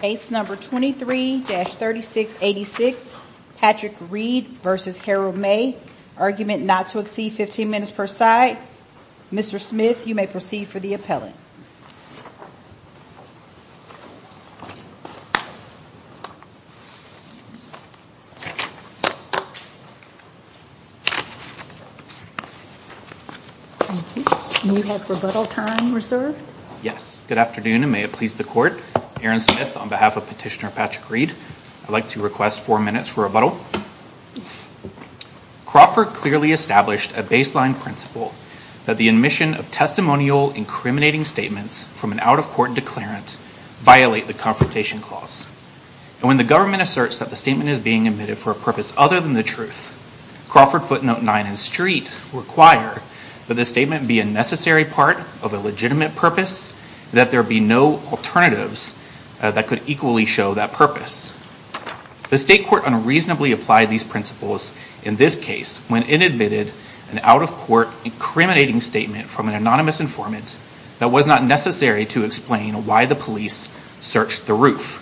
Case number 23-3686, Patrick Reed v. Harold May. Argument not to exceed 15 minutes per side. Mr. Smith, you may proceed for the appellate. You have rebuttal time reserved? Yes. Good afternoon, and may it please the court. Aaron Smith on behalf of Petitioner Patrick Reed. I'd like to request four minutes for rebuttal. Crawford clearly established a baseline principle that the admission of testimonial incriminating statements from an out-of-court declarant violate the Confrontation Clause. And when the government asserts that the statement is being admitted for a purpose other than the truth, Crawford footnote nine and street require that the statement be a necessary part of a legitimate purpose, that there be no alternatives that could equally show that purpose. The state court unreasonably applied these principles in this case when it admitted an out-of-court incriminating statement from an anonymous informant that was not necessary to explain why the police searched the roof.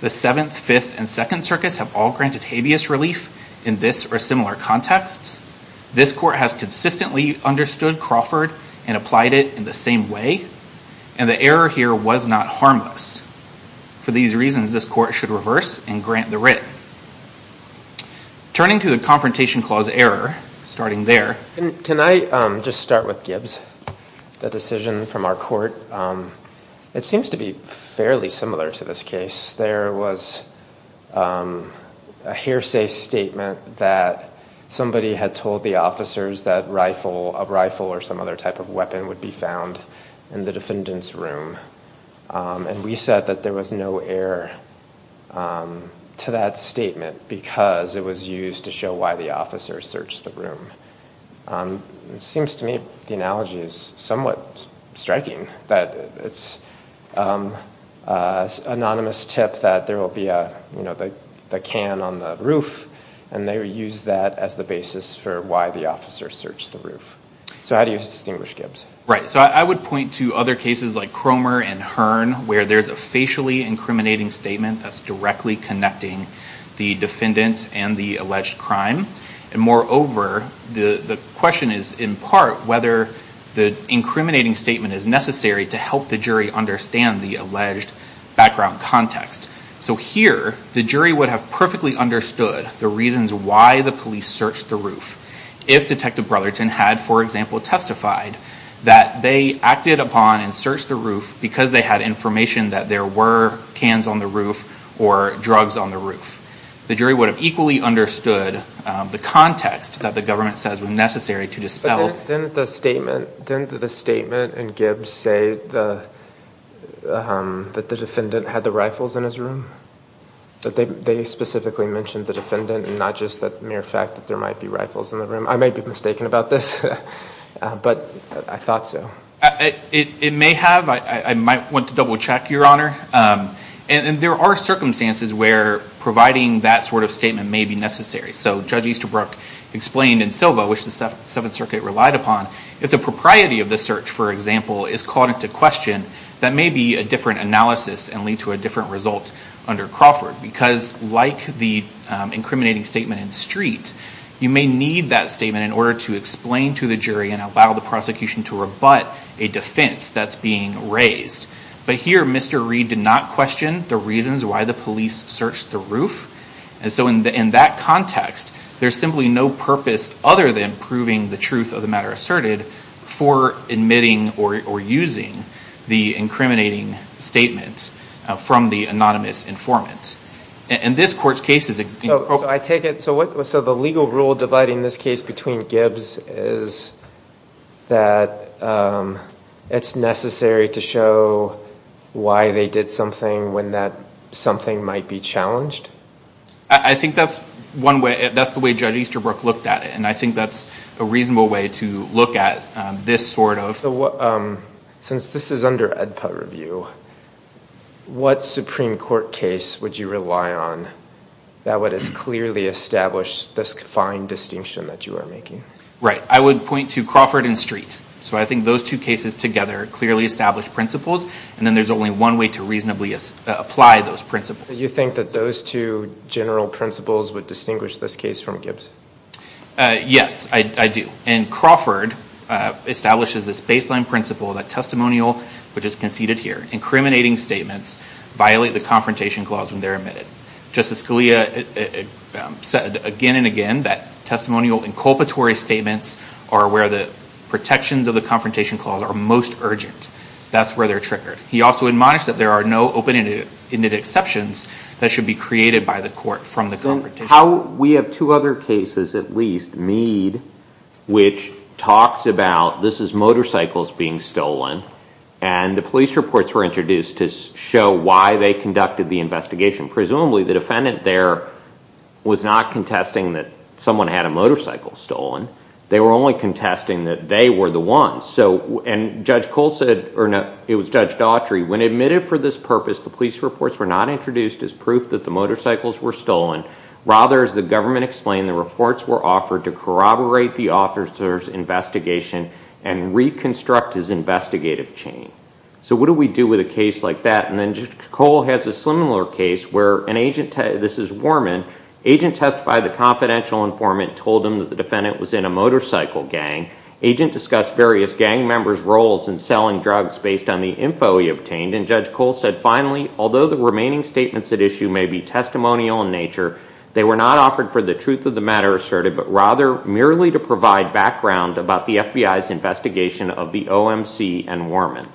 The Seventh, Fifth, and Second Circuits have all granted habeas relief in this or similar contexts. This court has consistently understood Crawford and applied it in the same way. And the error here was not harmless. For these reasons, this court should reverse and grant the writ. Turning to the Confrontation Clause error, starting there. Can I just start with Gibbs? The decision from our court, it seems to be fairly similar to this case. There was a hearsay statement that somebody had told the officers that a rifle or some other type of weapon would be found. In the defendant's room. And we said that there was no error to that statement because it was used to show why the officer searched the room. It seems to me the analogy is somewhat striking. That it's an anonymous tip that there will be a can on the roof. And they use that as the basis for why the officer searched the roof. So how do you distinguish Gibbs? So I would point to other cases like Cromer and Hearn, where there's a facially incriminating statement that's directly connecting the defendant and the alleged crime. And moreover, the question is, in part, whether the incriminating statement is necessary to help the jury understand the alleged background context. So here, the jury would have perfectly understood the reasons why the police searched the roof. If Detective Brotherton had, for example, testified that they acted upon and searched the roof because they had information that there were cans on the roof or drugs on the roof, the jury would have equally understood the context that the government says was necessary to dispel. But didn't the statement in Gibbs say that the defendant had the rifles in his room? That they specifically mentioned the defendant and not just the mere fact that there might be rifles in the room? I may be mistaken about this, but I thought so. It may have. I might want to double check, Your Honor. And there are circumstances where providing that sort of statement may be necessary. So Judge Easterbrook explained in Silva, which the Seventh Circuit relied upon, if the propriety of the search, for example, is called into question, that may be a different analysis and lead to a different result under Crawford. Because like the incriminating statement in Street, you may need that statement in order to explain to the jury and allow the prosecution to rebut a defense that's being raised. But here, Mr. Reed did not question the reasons why the police searched the roof. And so in that context, there's simply no purpose other than proving the truth of the matter asserted for admitting or using the incriminating statement from the anonymous informant. And this court's case is appropriate. So the legal rule dividing this case between Gibbs is that it's necessary to show why they did something when something might be challenged? I think that's one way. That's the way Judge Easterbrook looked at it. And I think that's a reasonable way to look at this sort of. Since this is under EdPET review, what Supreme Court case would you rely on that would clearly establish this fine distinction that you are making? Right, I would point to Crawford and Street. So I think those two cases together clearly establish principles. And then there's only one way to reasonably apply those principles. Do you think that those two general principles would distinguish this case from Gibbs? Yes, I do. And Crawford establishes this baseline principle that testimonial, which is conceded here, incriminating statements violate the confrontation clause when they're admitted. Justice Scalia said again and again that testimonial inculpatory statements are where the protections of the confrontation clause are most urgent. That's where they're triggered. He also admonished that there are no open-ended exceptions that should be created by the court from the confrontation. We have two other cases, at least, Mead, which talks about this is motorcycles being stolen. And the police reports were introduced to show why they conducted the investigation. Presumably, the defendant there was not contesting that someone had a motorcycle stolen. They were only contesting that they were the ones. And Judge Cole said, or no, it was Judge Daughtry, when admitted for this purpose, the police reports were not introduced as proof that the motorcycles were stolen. Rather, as the government explained, the reports were offered to corroborate the officer's investigation and reconstruct his investigative chain. So what do we do with a case like that? And then Judge Cole has a similar case where an agent, this is Warman, agent testified that confidential informant told him that the defendant was in a motorcycle gang. Agent discussed various gang members' roles in selling drugs based on the info he obtained. And Judge Cole said, finally, although the remaining They were not offered for the truth of the matter asserted, but rather merely to provide background about the FBI's investigation of the OMC and Warman.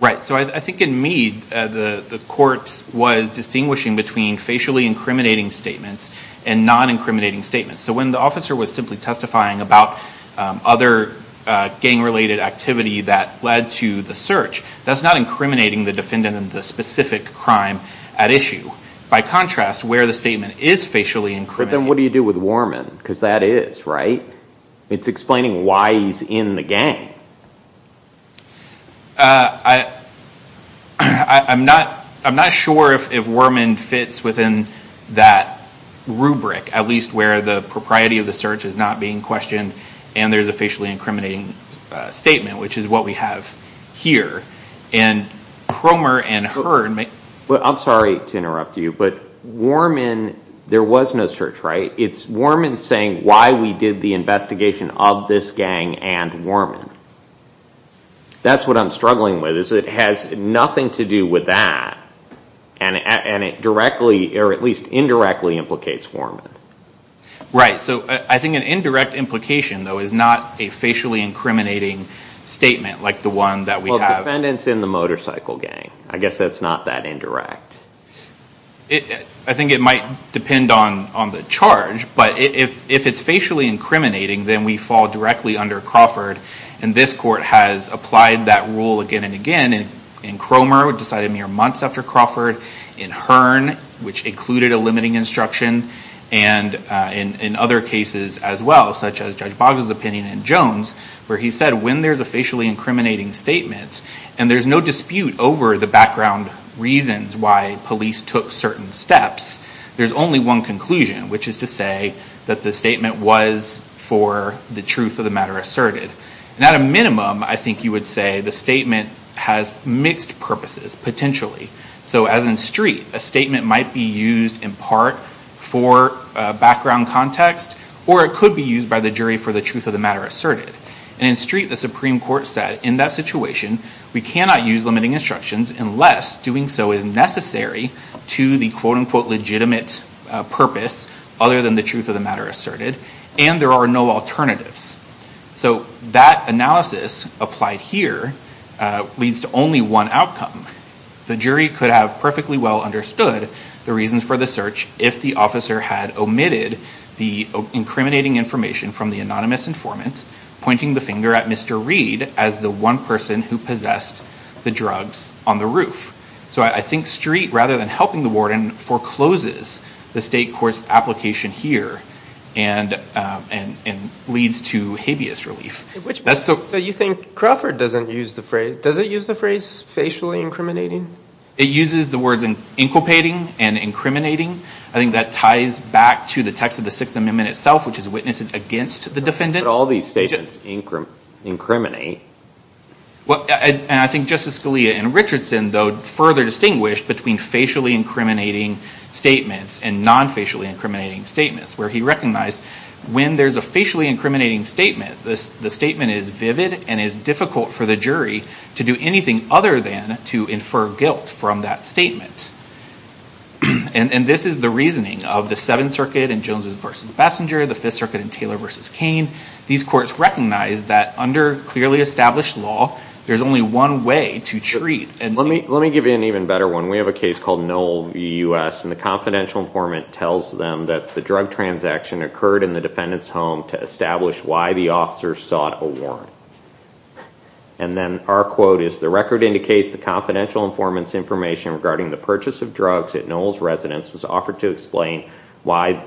Right, so I think in Meade, the court was distinguishing between facially incriminating statements and non-incriminating statements. So when the officer was simply testifying about other gang-related activity that led to the search, that's not incriminating the defendant in the specific crime at issue. By contrast, where the statement is facially incriminating. But then what do you do with Warman? Because that is, right? It's explaining why he's in the gang. I'm not sure if Warman fits within that rubric, at least where the propriety of the search is not being questioned and there's a facially incriminating statement, which is what we have here. And Cromer and Hurd may. I'm sorry to interrupt you, but Warman, there was no search, right? It's Warman saying why we did the investigation of this gang and Warman. That's what I'm struggling with, is it has nothing to do with that. And it directly, or at least indirectly, implicates Warman. Right, so I think an indirect implication, though, is not a facially incriminating statement, like the one that we have. Well, the defendant's in the motorcycle gang. I guess that's not that indirect. I think it might depend on the charge. But if it's facially incriminating, then we fall directly under Crawford. And this court has applied that rule again and again. And Cromer decided mere months after Crawford. And Hurd, which included a limiting instruction. And in other cases as well, such as Judge Boggs' opinion and Jones, where he said when there's a facially incriminating statement, and there's no dispute over the background reasons why police took certain steps, there's only one conclusion, which is to say that the statement was for the truth of the matter asserted. And at a minimum, I think you would say the statement has mixed purposes, potentially. So as in Street, a statement might be used in part for background context, or it could be used by the jury for the truth of the matter asserted. And in Street, the Supreme Court said, in that situation, we cannot use limiting instructions unless doing so is necessary to the quote unquote legitimate purpose other than the truth of the matter asserted. And there are no alternatives. So that analysis applied here leads to only one outcome. The jury could have perfectly well understood the reasons for the search if the officer had omitted the incriminating information from the anonymous informant, pointing the finger at Mr. who possessed the drugs on the roof. So I think Street, rather than helping the warden, forecloses the state court's application here and leads to habeas relief. So you think Crawford doesn't use the phrase? Does it use the phrase facially incriminating? It uses the words inculpating and incriminating. I think that ties back to the text of the Sixth Amendment itself, which is witnesses against the defendant. How could all these statements incriminate? And I think Justice Scalia and Richardson, though, further distinguished between facially incriminating statements and non-facially incriminating statements, where he recognized when there's a facially incriminating statement, the statement is vivid and is difficult for the jury to do anything other than to infer guilt from that statement. And this is the reasoning of the Seventh Circuit in Joneses versus Bassinger, the Fifth Circuit in Taylor versus Cain. These courts recognize that under clearly established law, there's only one way to treat. And let me give you an even better one. We have a case called Noel v. US. And the confidential informant tells them that the drug transaction occurred in the defendant's home to establish why the officer sought a warrant. And then our quote is, the record indicates the confidential informant's information regarding the purchase of drugs at Noel's residence was offered to explain why,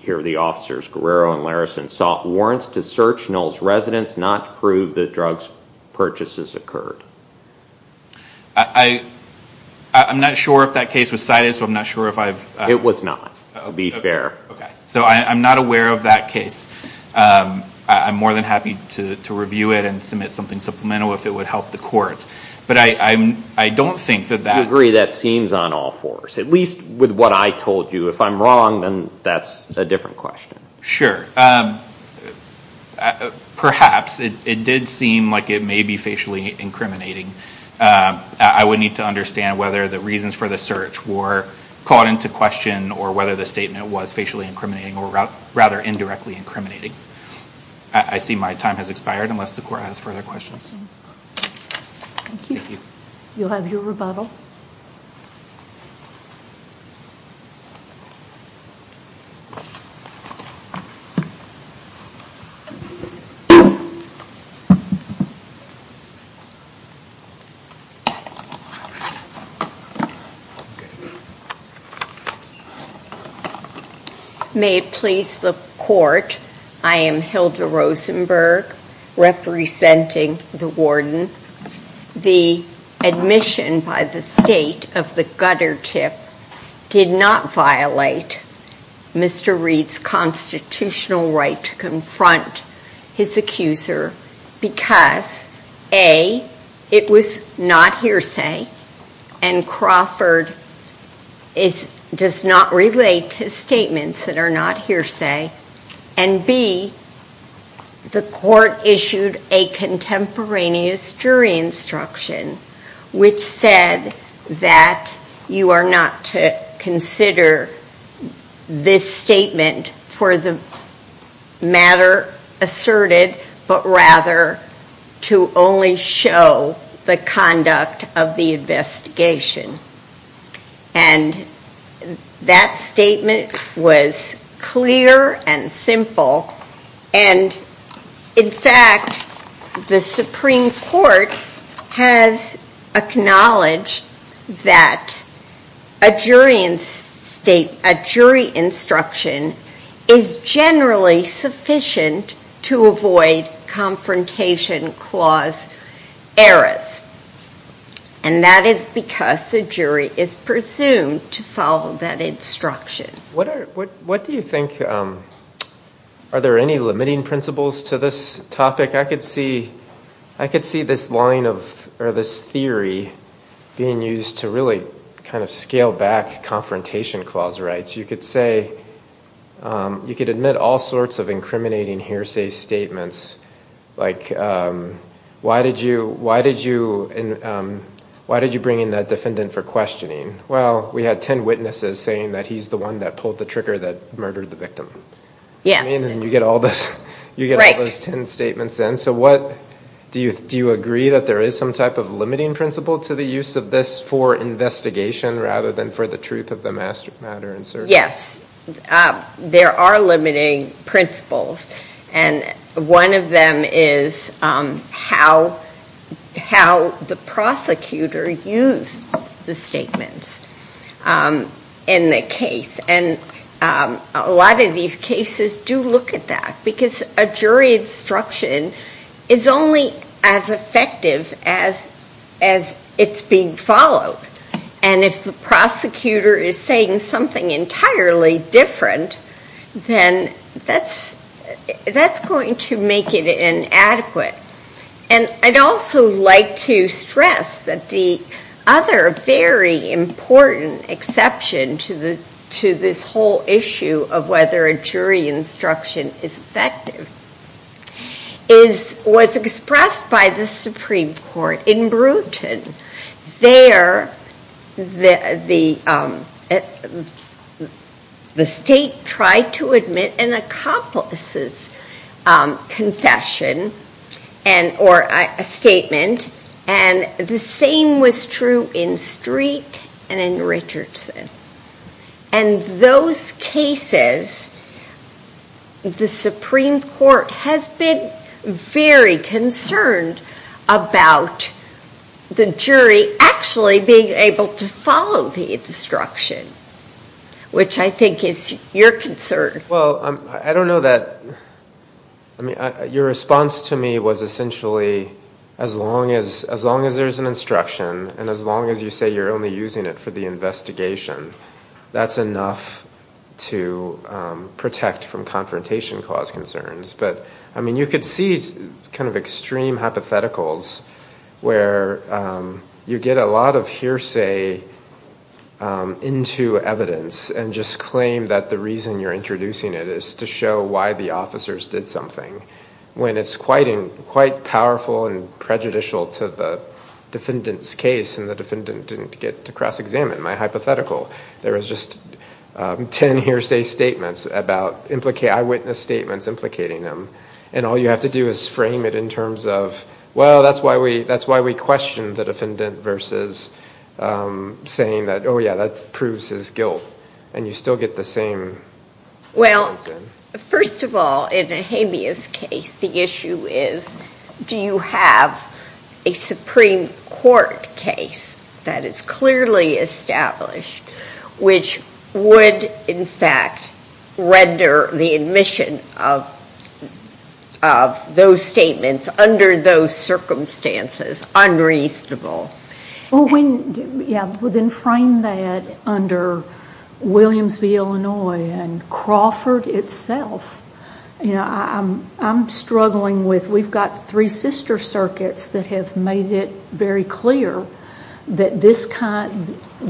here are the officers, Guerrero and Larrison, sought warrants to search Noel's residence not to prove that drug purchases occurred. I'm not sure if that case was cited, so I'm not sure if I've. It was not, to be fair. So I'm not aware of that case. I'm more than happy to review it and submit something supplemental if it would help the court. But I don't think that that. I agree, that seems on all fours, at least with what I told you. If I'm wrong, then that's a different question. Sure. Perhaps. It did seem like it may be facially incriminating. I would need to understand whether the reasons for the search were caught into question or whether the statement was facially incriminating or rather indirectly incriminating. I see my time has expired unless the court has further questions. Thank you. You'll have your rebuttal. May it please the court, I am Hilda Rosenberg, representing the warden. The admission by the state of the gutter tip did not violate Mr. Reed's constitutional right to confront his accuser because A, it was not hearsay and Crawford does not relate to statements that are not hearsay, and B, the court issued a contemporaneous jury instruction, which said that you are not to consider this statement for the matter asserted, but rather to only show the conduct of the investigation. And that statement was clear and simple. And in fact, the Supreme Court has acknowledged that a jury instruction is generally sufficient to avoid confrontation clause errors. And that is because the jury is presumed to follow that instruction. What do you think, are there any limiting principles to this topic? I could see this line of, or this theory being used to really kind of scale back confrontation clause rights. You could say, you could admit all sorts of incriminating hearsay statements, like why did you bring in that defendant for questioning? Well, we had 10 witnesses saying that he's the one that pulled the trigger that murdered the victim. Yes. And you get all those 10 statements in. So do you agree that there is some type of limiting principle to the use of this for investigation rather than for the truth of the matter in question? Yes. There are limiting principles. And one of them is how the prosecutor used the statements in the case. And a lot of these cases do look at that. Because a jury instruction is only as effective as it's being followed. And if the prosecutor is saying something entirely different, then that's going to make it inadequate. And I'd also like to stress that the other very important exception to this whole issue of whether a jury instruction is effective was expressed by the Supreme Court in Brewton. There, the state tried to admit an accomplice's confession or a statement. And the same was true in Street and in Richardson. And those cases, the Supreme Court has been very concerned about the jury actually being able to follow the instruction, which I think is your concern. Well, I don't know that. Your response to me was essentially, as long as there's an instruction and as long as you say you're only using it for the investigation, that's enough to protect from confrontation cause concerns. But I mean, you could see kind of extreme hypotheticals where you get a lot of hearsay into evidence and just claim that the reason you're introducing it is to show why the officers did something, when it's quite powerful and prejudicial to the defendant's case. And the defendant didn't get to cross-examine my hypothetical. There was just 10 hearsay statements about eyewitness statements implicating them. And all you have to do is frame it in terms of, well, that's why we questioned the defendant versus saying that, oh yeah, that proves his guilt. And you still get the same answer. Well, first of all, in a habeas case, the issue is, do you have a Supreme Court case that is clearly established which would, in fact, render the admission of those statements under those circumstances unreasonable? Well, yeah, well, then frame that under Williams v. Illinois and Crawford itself. I'm struggling with, we've got three sister circuits that have made it very clear that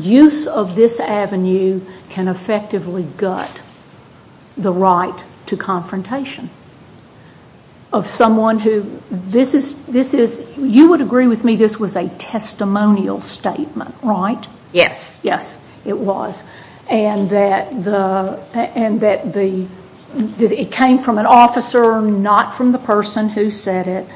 use of this avenue can effectively gut the right to confrontation of someone who, you would agree with me this was a testimonial statement, right? Yes. Yes, it was. And that it came from an officer, not from the person who said it,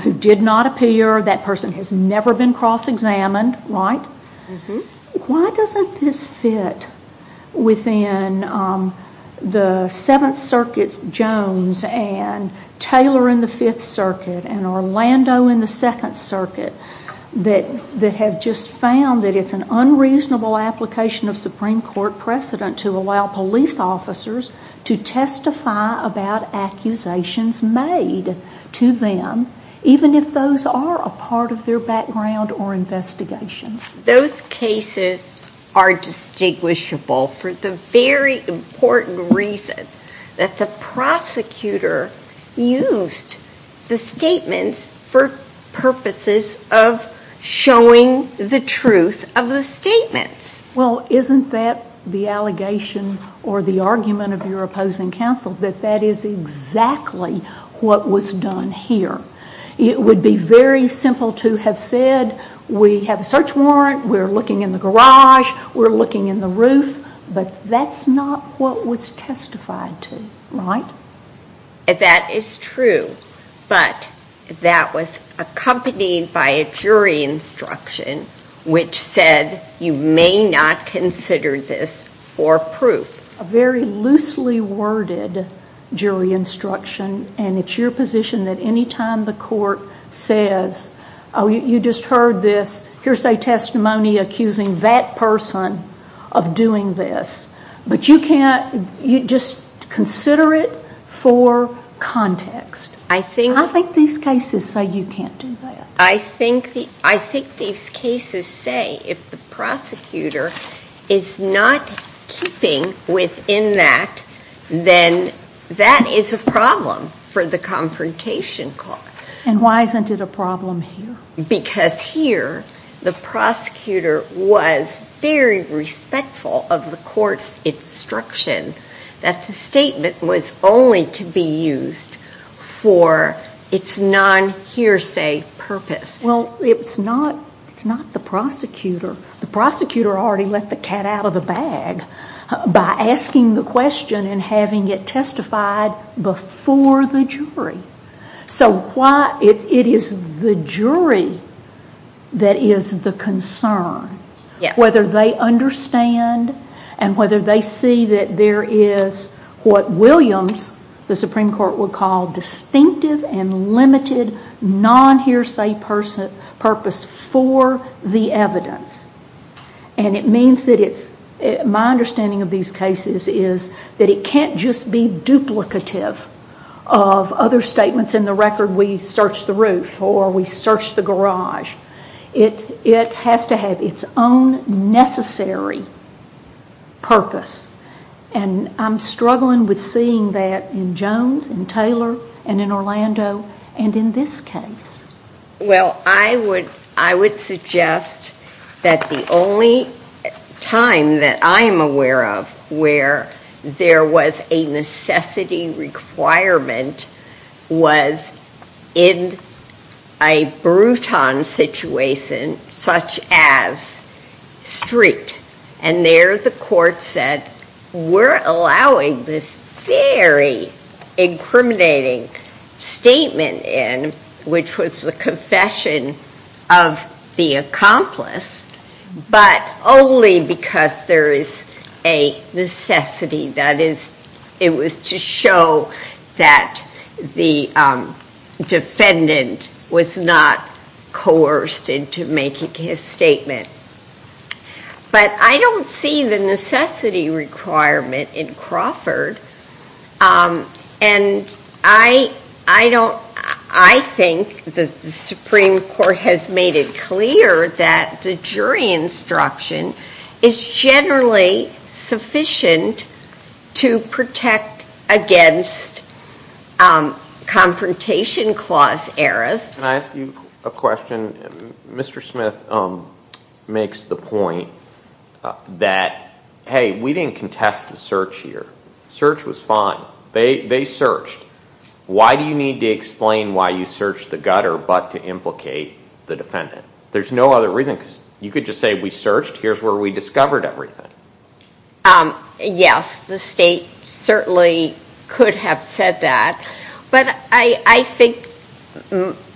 who did not appear. That person has never been cross-examined, right? Why doesn't this fit within the Seventh Circuit's Jones and Taylor in the Fifth Circuit and Orlando in the Second Circuit that have just found that it's an unreasonable application of Supreme Court precedent to allow police officers to testify about accusations made to them, even if those are a part of their background or investigation? Those cases are distinguishable for the very important reason that the prosecutor used the statements for purposes of showing the truth of the statements. Well, isn't that the allegation or the argument of your opposing counsel, that that is exactly what was done here? It would be very simple to have said, we have a search warrant, we're looking in the garage, we're looking in the roof, but that's not what was testified to, right? That is true, but that was accompanied by a jury instruction, which said, you may not consider this for proof. A very loosely worded jury instruction, and it's your position that any time the court says, oh, you just heard this hearsay testimony accusing that person of doing this. But you can't just consider it for context. I think these cases say you can't do that. I think these cases say, if the prosecutor is not keeping within that, then that is a problem for the confrontation court. And why isn't it a problem here? Because here, the prosecutor was very respectful of the court's instruction that the statement was only to be used for its non-hearsay purpose. Well, it's not the prosecutor. The prosecutor already let the cat out of the bag by asking the question and having it testified before the jury. So it is the jury that is the concern, whether they understand and whether they see that there is what Williams, the Supreme Court, would call distinctive and limited non-hearsay purpose for the evidence. And it means that it's, my understanding of these cases is that it can't just be duplicative of other statements in the record, we searched the roof or we searched the garage. It has to have its own necessary purpose. And I'm struggling with seeing that in Jones, and Taylor, and in Orlando, and in this case. Well, I would suggest that the only time that I am aware of where there was a necessity requirement was in a Bruton situation, such as Street. And there the court said, we're allowing this very incriminating statement in, which was the confession of the accomplice, but only because there is a necessity. That is, it was to show that the defendant was not coerced into making his statement. But I don't see the necessity requirement in Crawford. And I think the Supreme Court has made it clear that the jury instruction is generally sufficient to protect against confrontation clause errors. Can I ask you a question? Mr. Smith makes the point that, hey, we didn't contest the search here. Search was fine. They searched. Why do you need to explain why you searched the gutter but to implicate the defendant? There's no other reason. Because you could just say, we searched. Here's where we discovered everything. Yes, the state certainly could have said that. But I think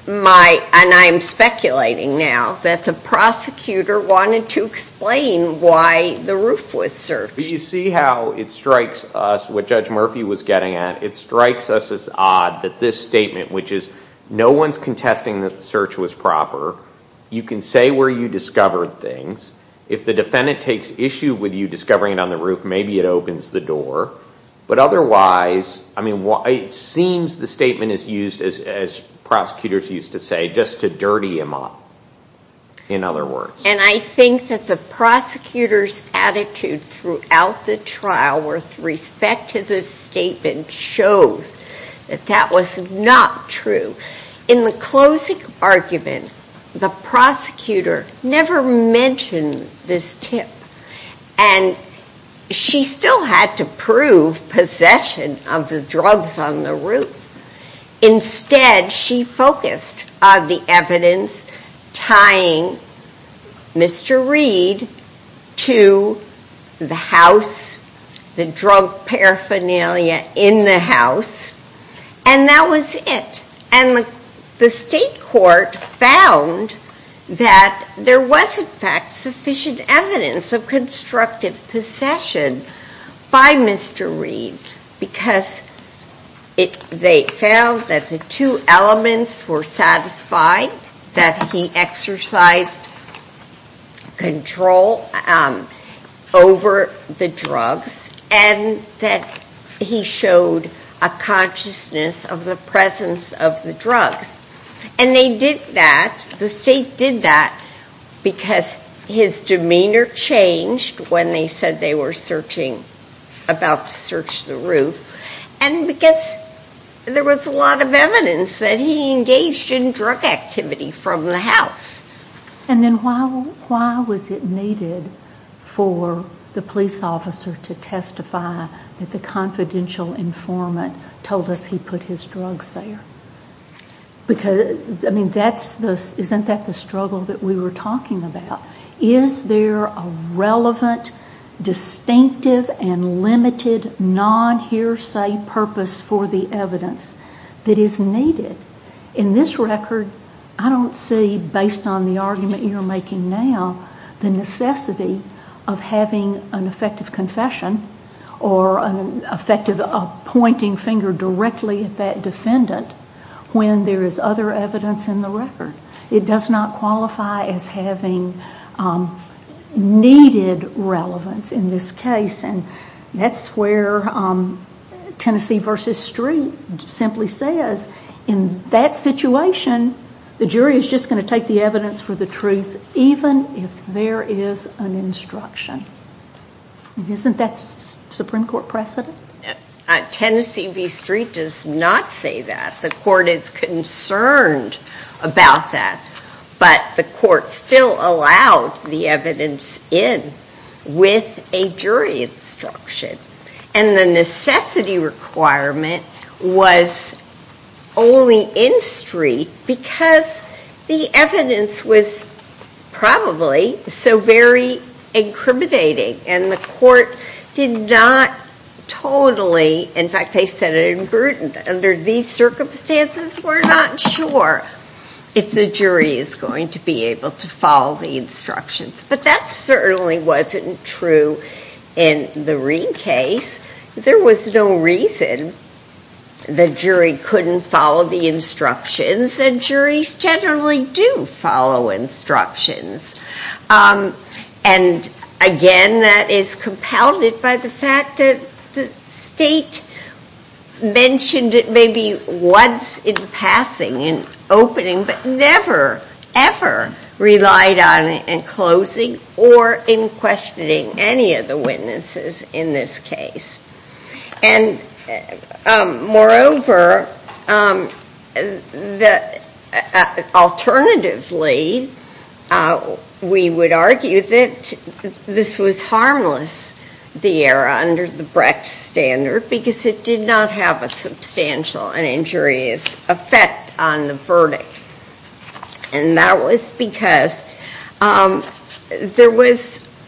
my, and I'm speculating now, that the prosecutor wanted to explain why the roof was searched. But you see how it strikes us, what Judge Murphy was getting at, it strikes us as odd that this statement, which no one's contesting that the search was proper, you can say where you discovered things. If the defendant takes issue with you discovering it on the roof, maybe it opens the door. But otherwise, it seems the statement is used, as prosecutors used to say, just to dirty him up, in other words. And I think that the prosecutor's attitude throughout the trial with respect to this statement shows that that was not true. In the closing argument, the prosecutor never mentioned this tip. And she still had to prove possession of the drugs on the roof. Instead, she focused on the evidence tying Mr. Reed to the house, the drug paraphernalia in the house. And that was it. And the state court found that there was, in fact, sufficient evidence of constructive possession by Mr. Reed. Because they found that the two elements were satisfied, that he exercised control over the drugs, and that he showed a consciousness of the presence of the drugs. And they did that, the state did that, because his demeanor changed when they said they were about to search the roof. And because there was a lot of evidence that he engaged in drug activity from the house. And then why was it needed for the police officer to testify that the confidential informant told us he put his drugs there? Isn't that the struggle that we were talking about? Is there a relevant, distinctive, and limited, non-hearsay purpose for the evidence that is needed? In this record, I don't see, based on the argument you're making now, the necessity of having an effective confession, or an effective pointing finger directly at that defendant, when there is other evidence in the record. It does not qualify as having needed relevance in this case. And that's where Tennessee v. Street simply says, in that situation, the jury is just going to take the evidence for the truth, even if there is an instruction. Isn't that Supreme Court precedent? Tennessee v. Street does not say that. The court is concerned about that. But the court still allowed the evidence in with a jury instruction. And the necessity requirement was only in Street, because the evidence was probably so very incriminating. And the court did not totally, in fact, they said it in Gruden, under these circumstances, we're not sure if the jury is going to be able to follow the instructions. But that certainly wasn't true in the Reed case. There was no reason the jury couldn't follow the instructions. And juries generally do follow instructions. And again, that is compounded by the fact that the state mentioned it maybe once in passing, in opening, but never, ever relied on it in closing or in questioning any of the witnesses in this case. And moreover, alternatively, we would argue that this was harmless, the error under the Brecht standard, because it did not have a substantial and injurious effect on the verdict. And that was because there was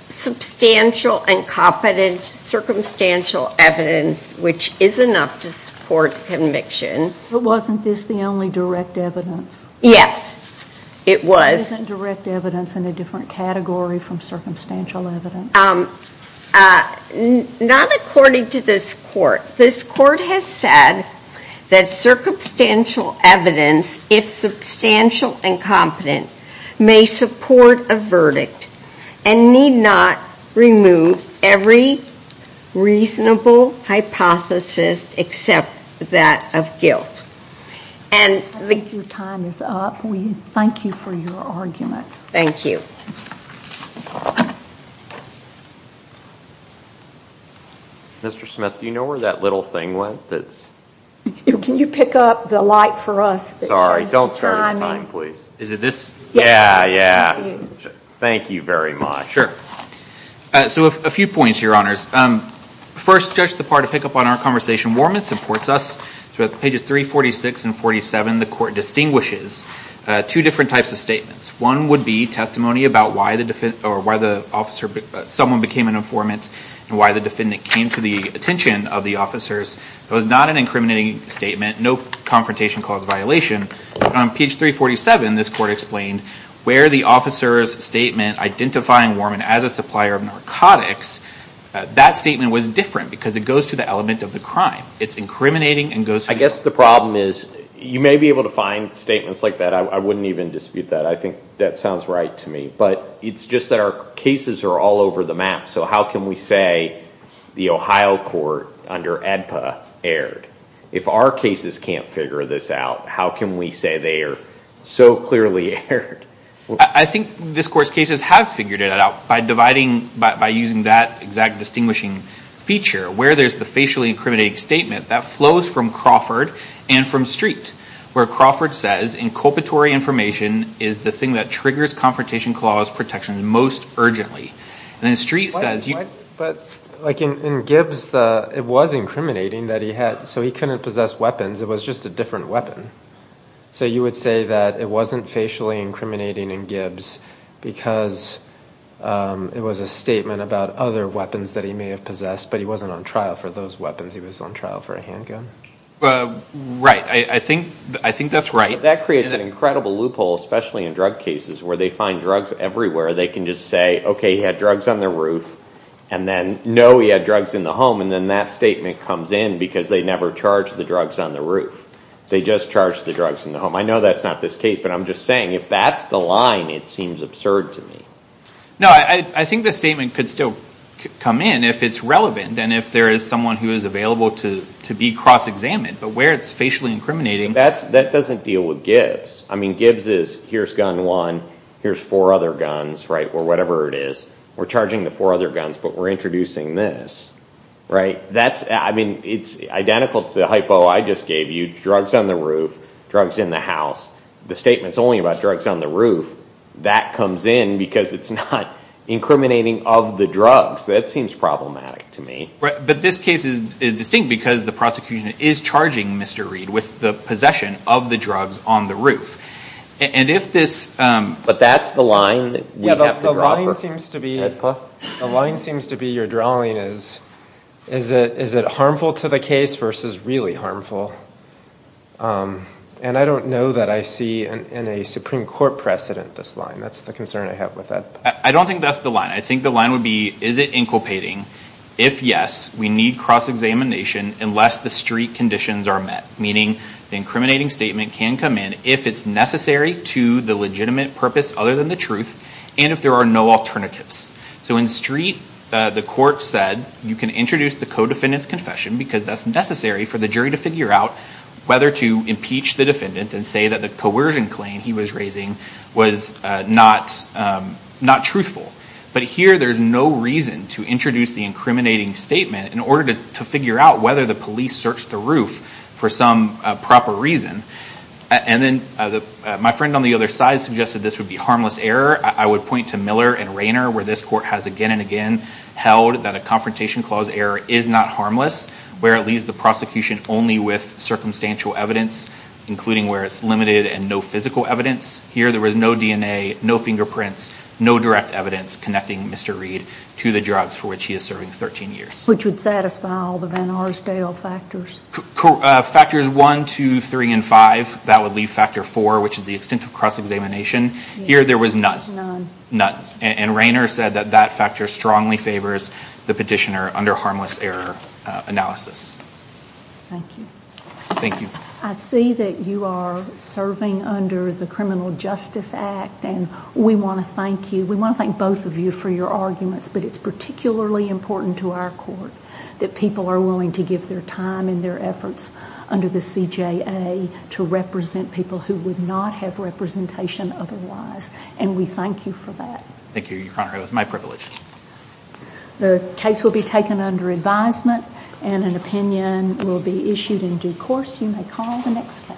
substantial, incompetent, circumstantial evidence, which is enough to support conviction. But wasn't this the only direct evidence? Yes, it was. Isn't direct evidence in a different category from circumstantial evidence? Not according to this court. This court has said that circumstantial evidence, if substantial and competent, may support a verdict and need not remove every reasonable hypothesis except that of guilt. And I think your time is up. We thank you for your arguments. Thank you. Mr. Smith, do you know where that little thing went? Can you pick up the light for us? Sorry, don't start a time, please. Is it this? Yeah, yeah. Thank you very much. Sure. So a few points, Your Honors. First, Judge DeParde to pick up on our conversation. Warmith supports us. So at pages 346 and 47, the court distinguishes two different types of statements. One would be testimony about why the officer, someone became an informant, and why the defendant came to the attention of the officers. It was not an incriminating statement, no confrontation cause violation. On page 347, this court explained where the officer's statement identifying Worman as a supplier of narcotics, that statement was different because it goes to the element of the crime. It's incriminating and goes to the element of the crime. I guess the problem is you may be able to find statements like that. I wouldn't even dispute that. I think that sounds right to me. But it's just that our cases are all over the map. So how can we say the Ohio court under ADPA erred? If our cases can't figure this out, how can we say they are so clearly erred? I think this court's cases have figured it out by dividing, by using that exact distinguishing feature, where there's the facially incriminating statement that flows from Crawford and from Street, where Crawford says, inculpatory information is the thing that triggers confrontation clause protection most urgently. And then Street says you- But like in Gibbs, it was incriminating that he had, so he couldn't possess weapons. It was just a different weapon. So you would say that it wasn't facially incriminating in Gibbs because it was a statement about other weapons that he may have possessed, but he wasn't on trial for those weapons. He was on trial for a handgun? Right. I think that's right. That creates an incredible loophole, especially in drug cases, where they find drugs everywhere. They can just say, OK, he had drugs on the roof. And then, no, he had drugs in the home. And then that statement comes in because they never charged the drugs on the roof. They just charged the drugs in the home. I know that's not this case, but I'm just saying, if that's the line, it seems absurd to me. No, I think the statement could still come in if it's relevant and if there is someone who is available to be cross-examined. But where it's facially incriminating- That doesn't deal with Gibbs. I mean, Gibbs is, here's gun one. Here's four other guns, or whatever it is. We're charging the four other guns, but we're introducing this. That's, I mean, it's identical to the hypo I just gave you. Drugs on the roof, drugs in the house. The statement's only about drugs on the roof. That comes in because it's not incriminating of the drugs. That seems problematic to me. But this case is distinct because the prosecution is charging Mr. Reed with the possession of the drugs on the roof. And if this- But that's the line we have to draw for- The line seems to be you're drawing is, is it harmful to the case versus really harmful? And I don't know that I see in a Supreme Court precedent this line. That's the concern I have with that. I don't think that's the line. I think the line would be, is it inculpating? If yes, we need cross-examination unless the street conditions are met. Meaning the incriminating statement can come in if it's necessary to the legitimate purpose other than the truth, and if there are no alternatives. So in street, the court said, you can introduce the co-defendant's confession because that's necessary for the jury to figure out whether to impeach the defendant and say that the coercion claim he was raising was not truthful. But here there's no reason to introduce the incriminating statement in order to figure out whether the police searched the roof for some proper reason. And then my friend on the other side suggested this would be harmless error. I would point to Miller and Rayner where this court has again and again held that a confrontation clause error is not harmless, where it leaves the prosecution only with circumstantial evidence, including where it's limited and no physical evidence. Here there was no DNA, no fingerprints, no direct evidence connecting Mr. Reed to the drugs for which he is serving 13 years. Which would satisfy all the Van Arsdale factors. Factors one, two, three, and five. That would leave factor four, which is the extent of cross-examination. Here there was none. None. And Rayner said that that factor strongly favors the petitioner under harmless error analysis. Thank you. Thank you. I see that you are serving under the Criminal Justice Act and we want to thank you. We want to thank both of you for your arguments, but it's particularly important to our court that people are willing to give their time and their efforts under the CJA to represent people who would not have representation otherwise. And we thank you for that. Thank you, Your Honor. It was my privilege. The case will be taken under advisement and an opinion will be issued in due course. You may call the next case.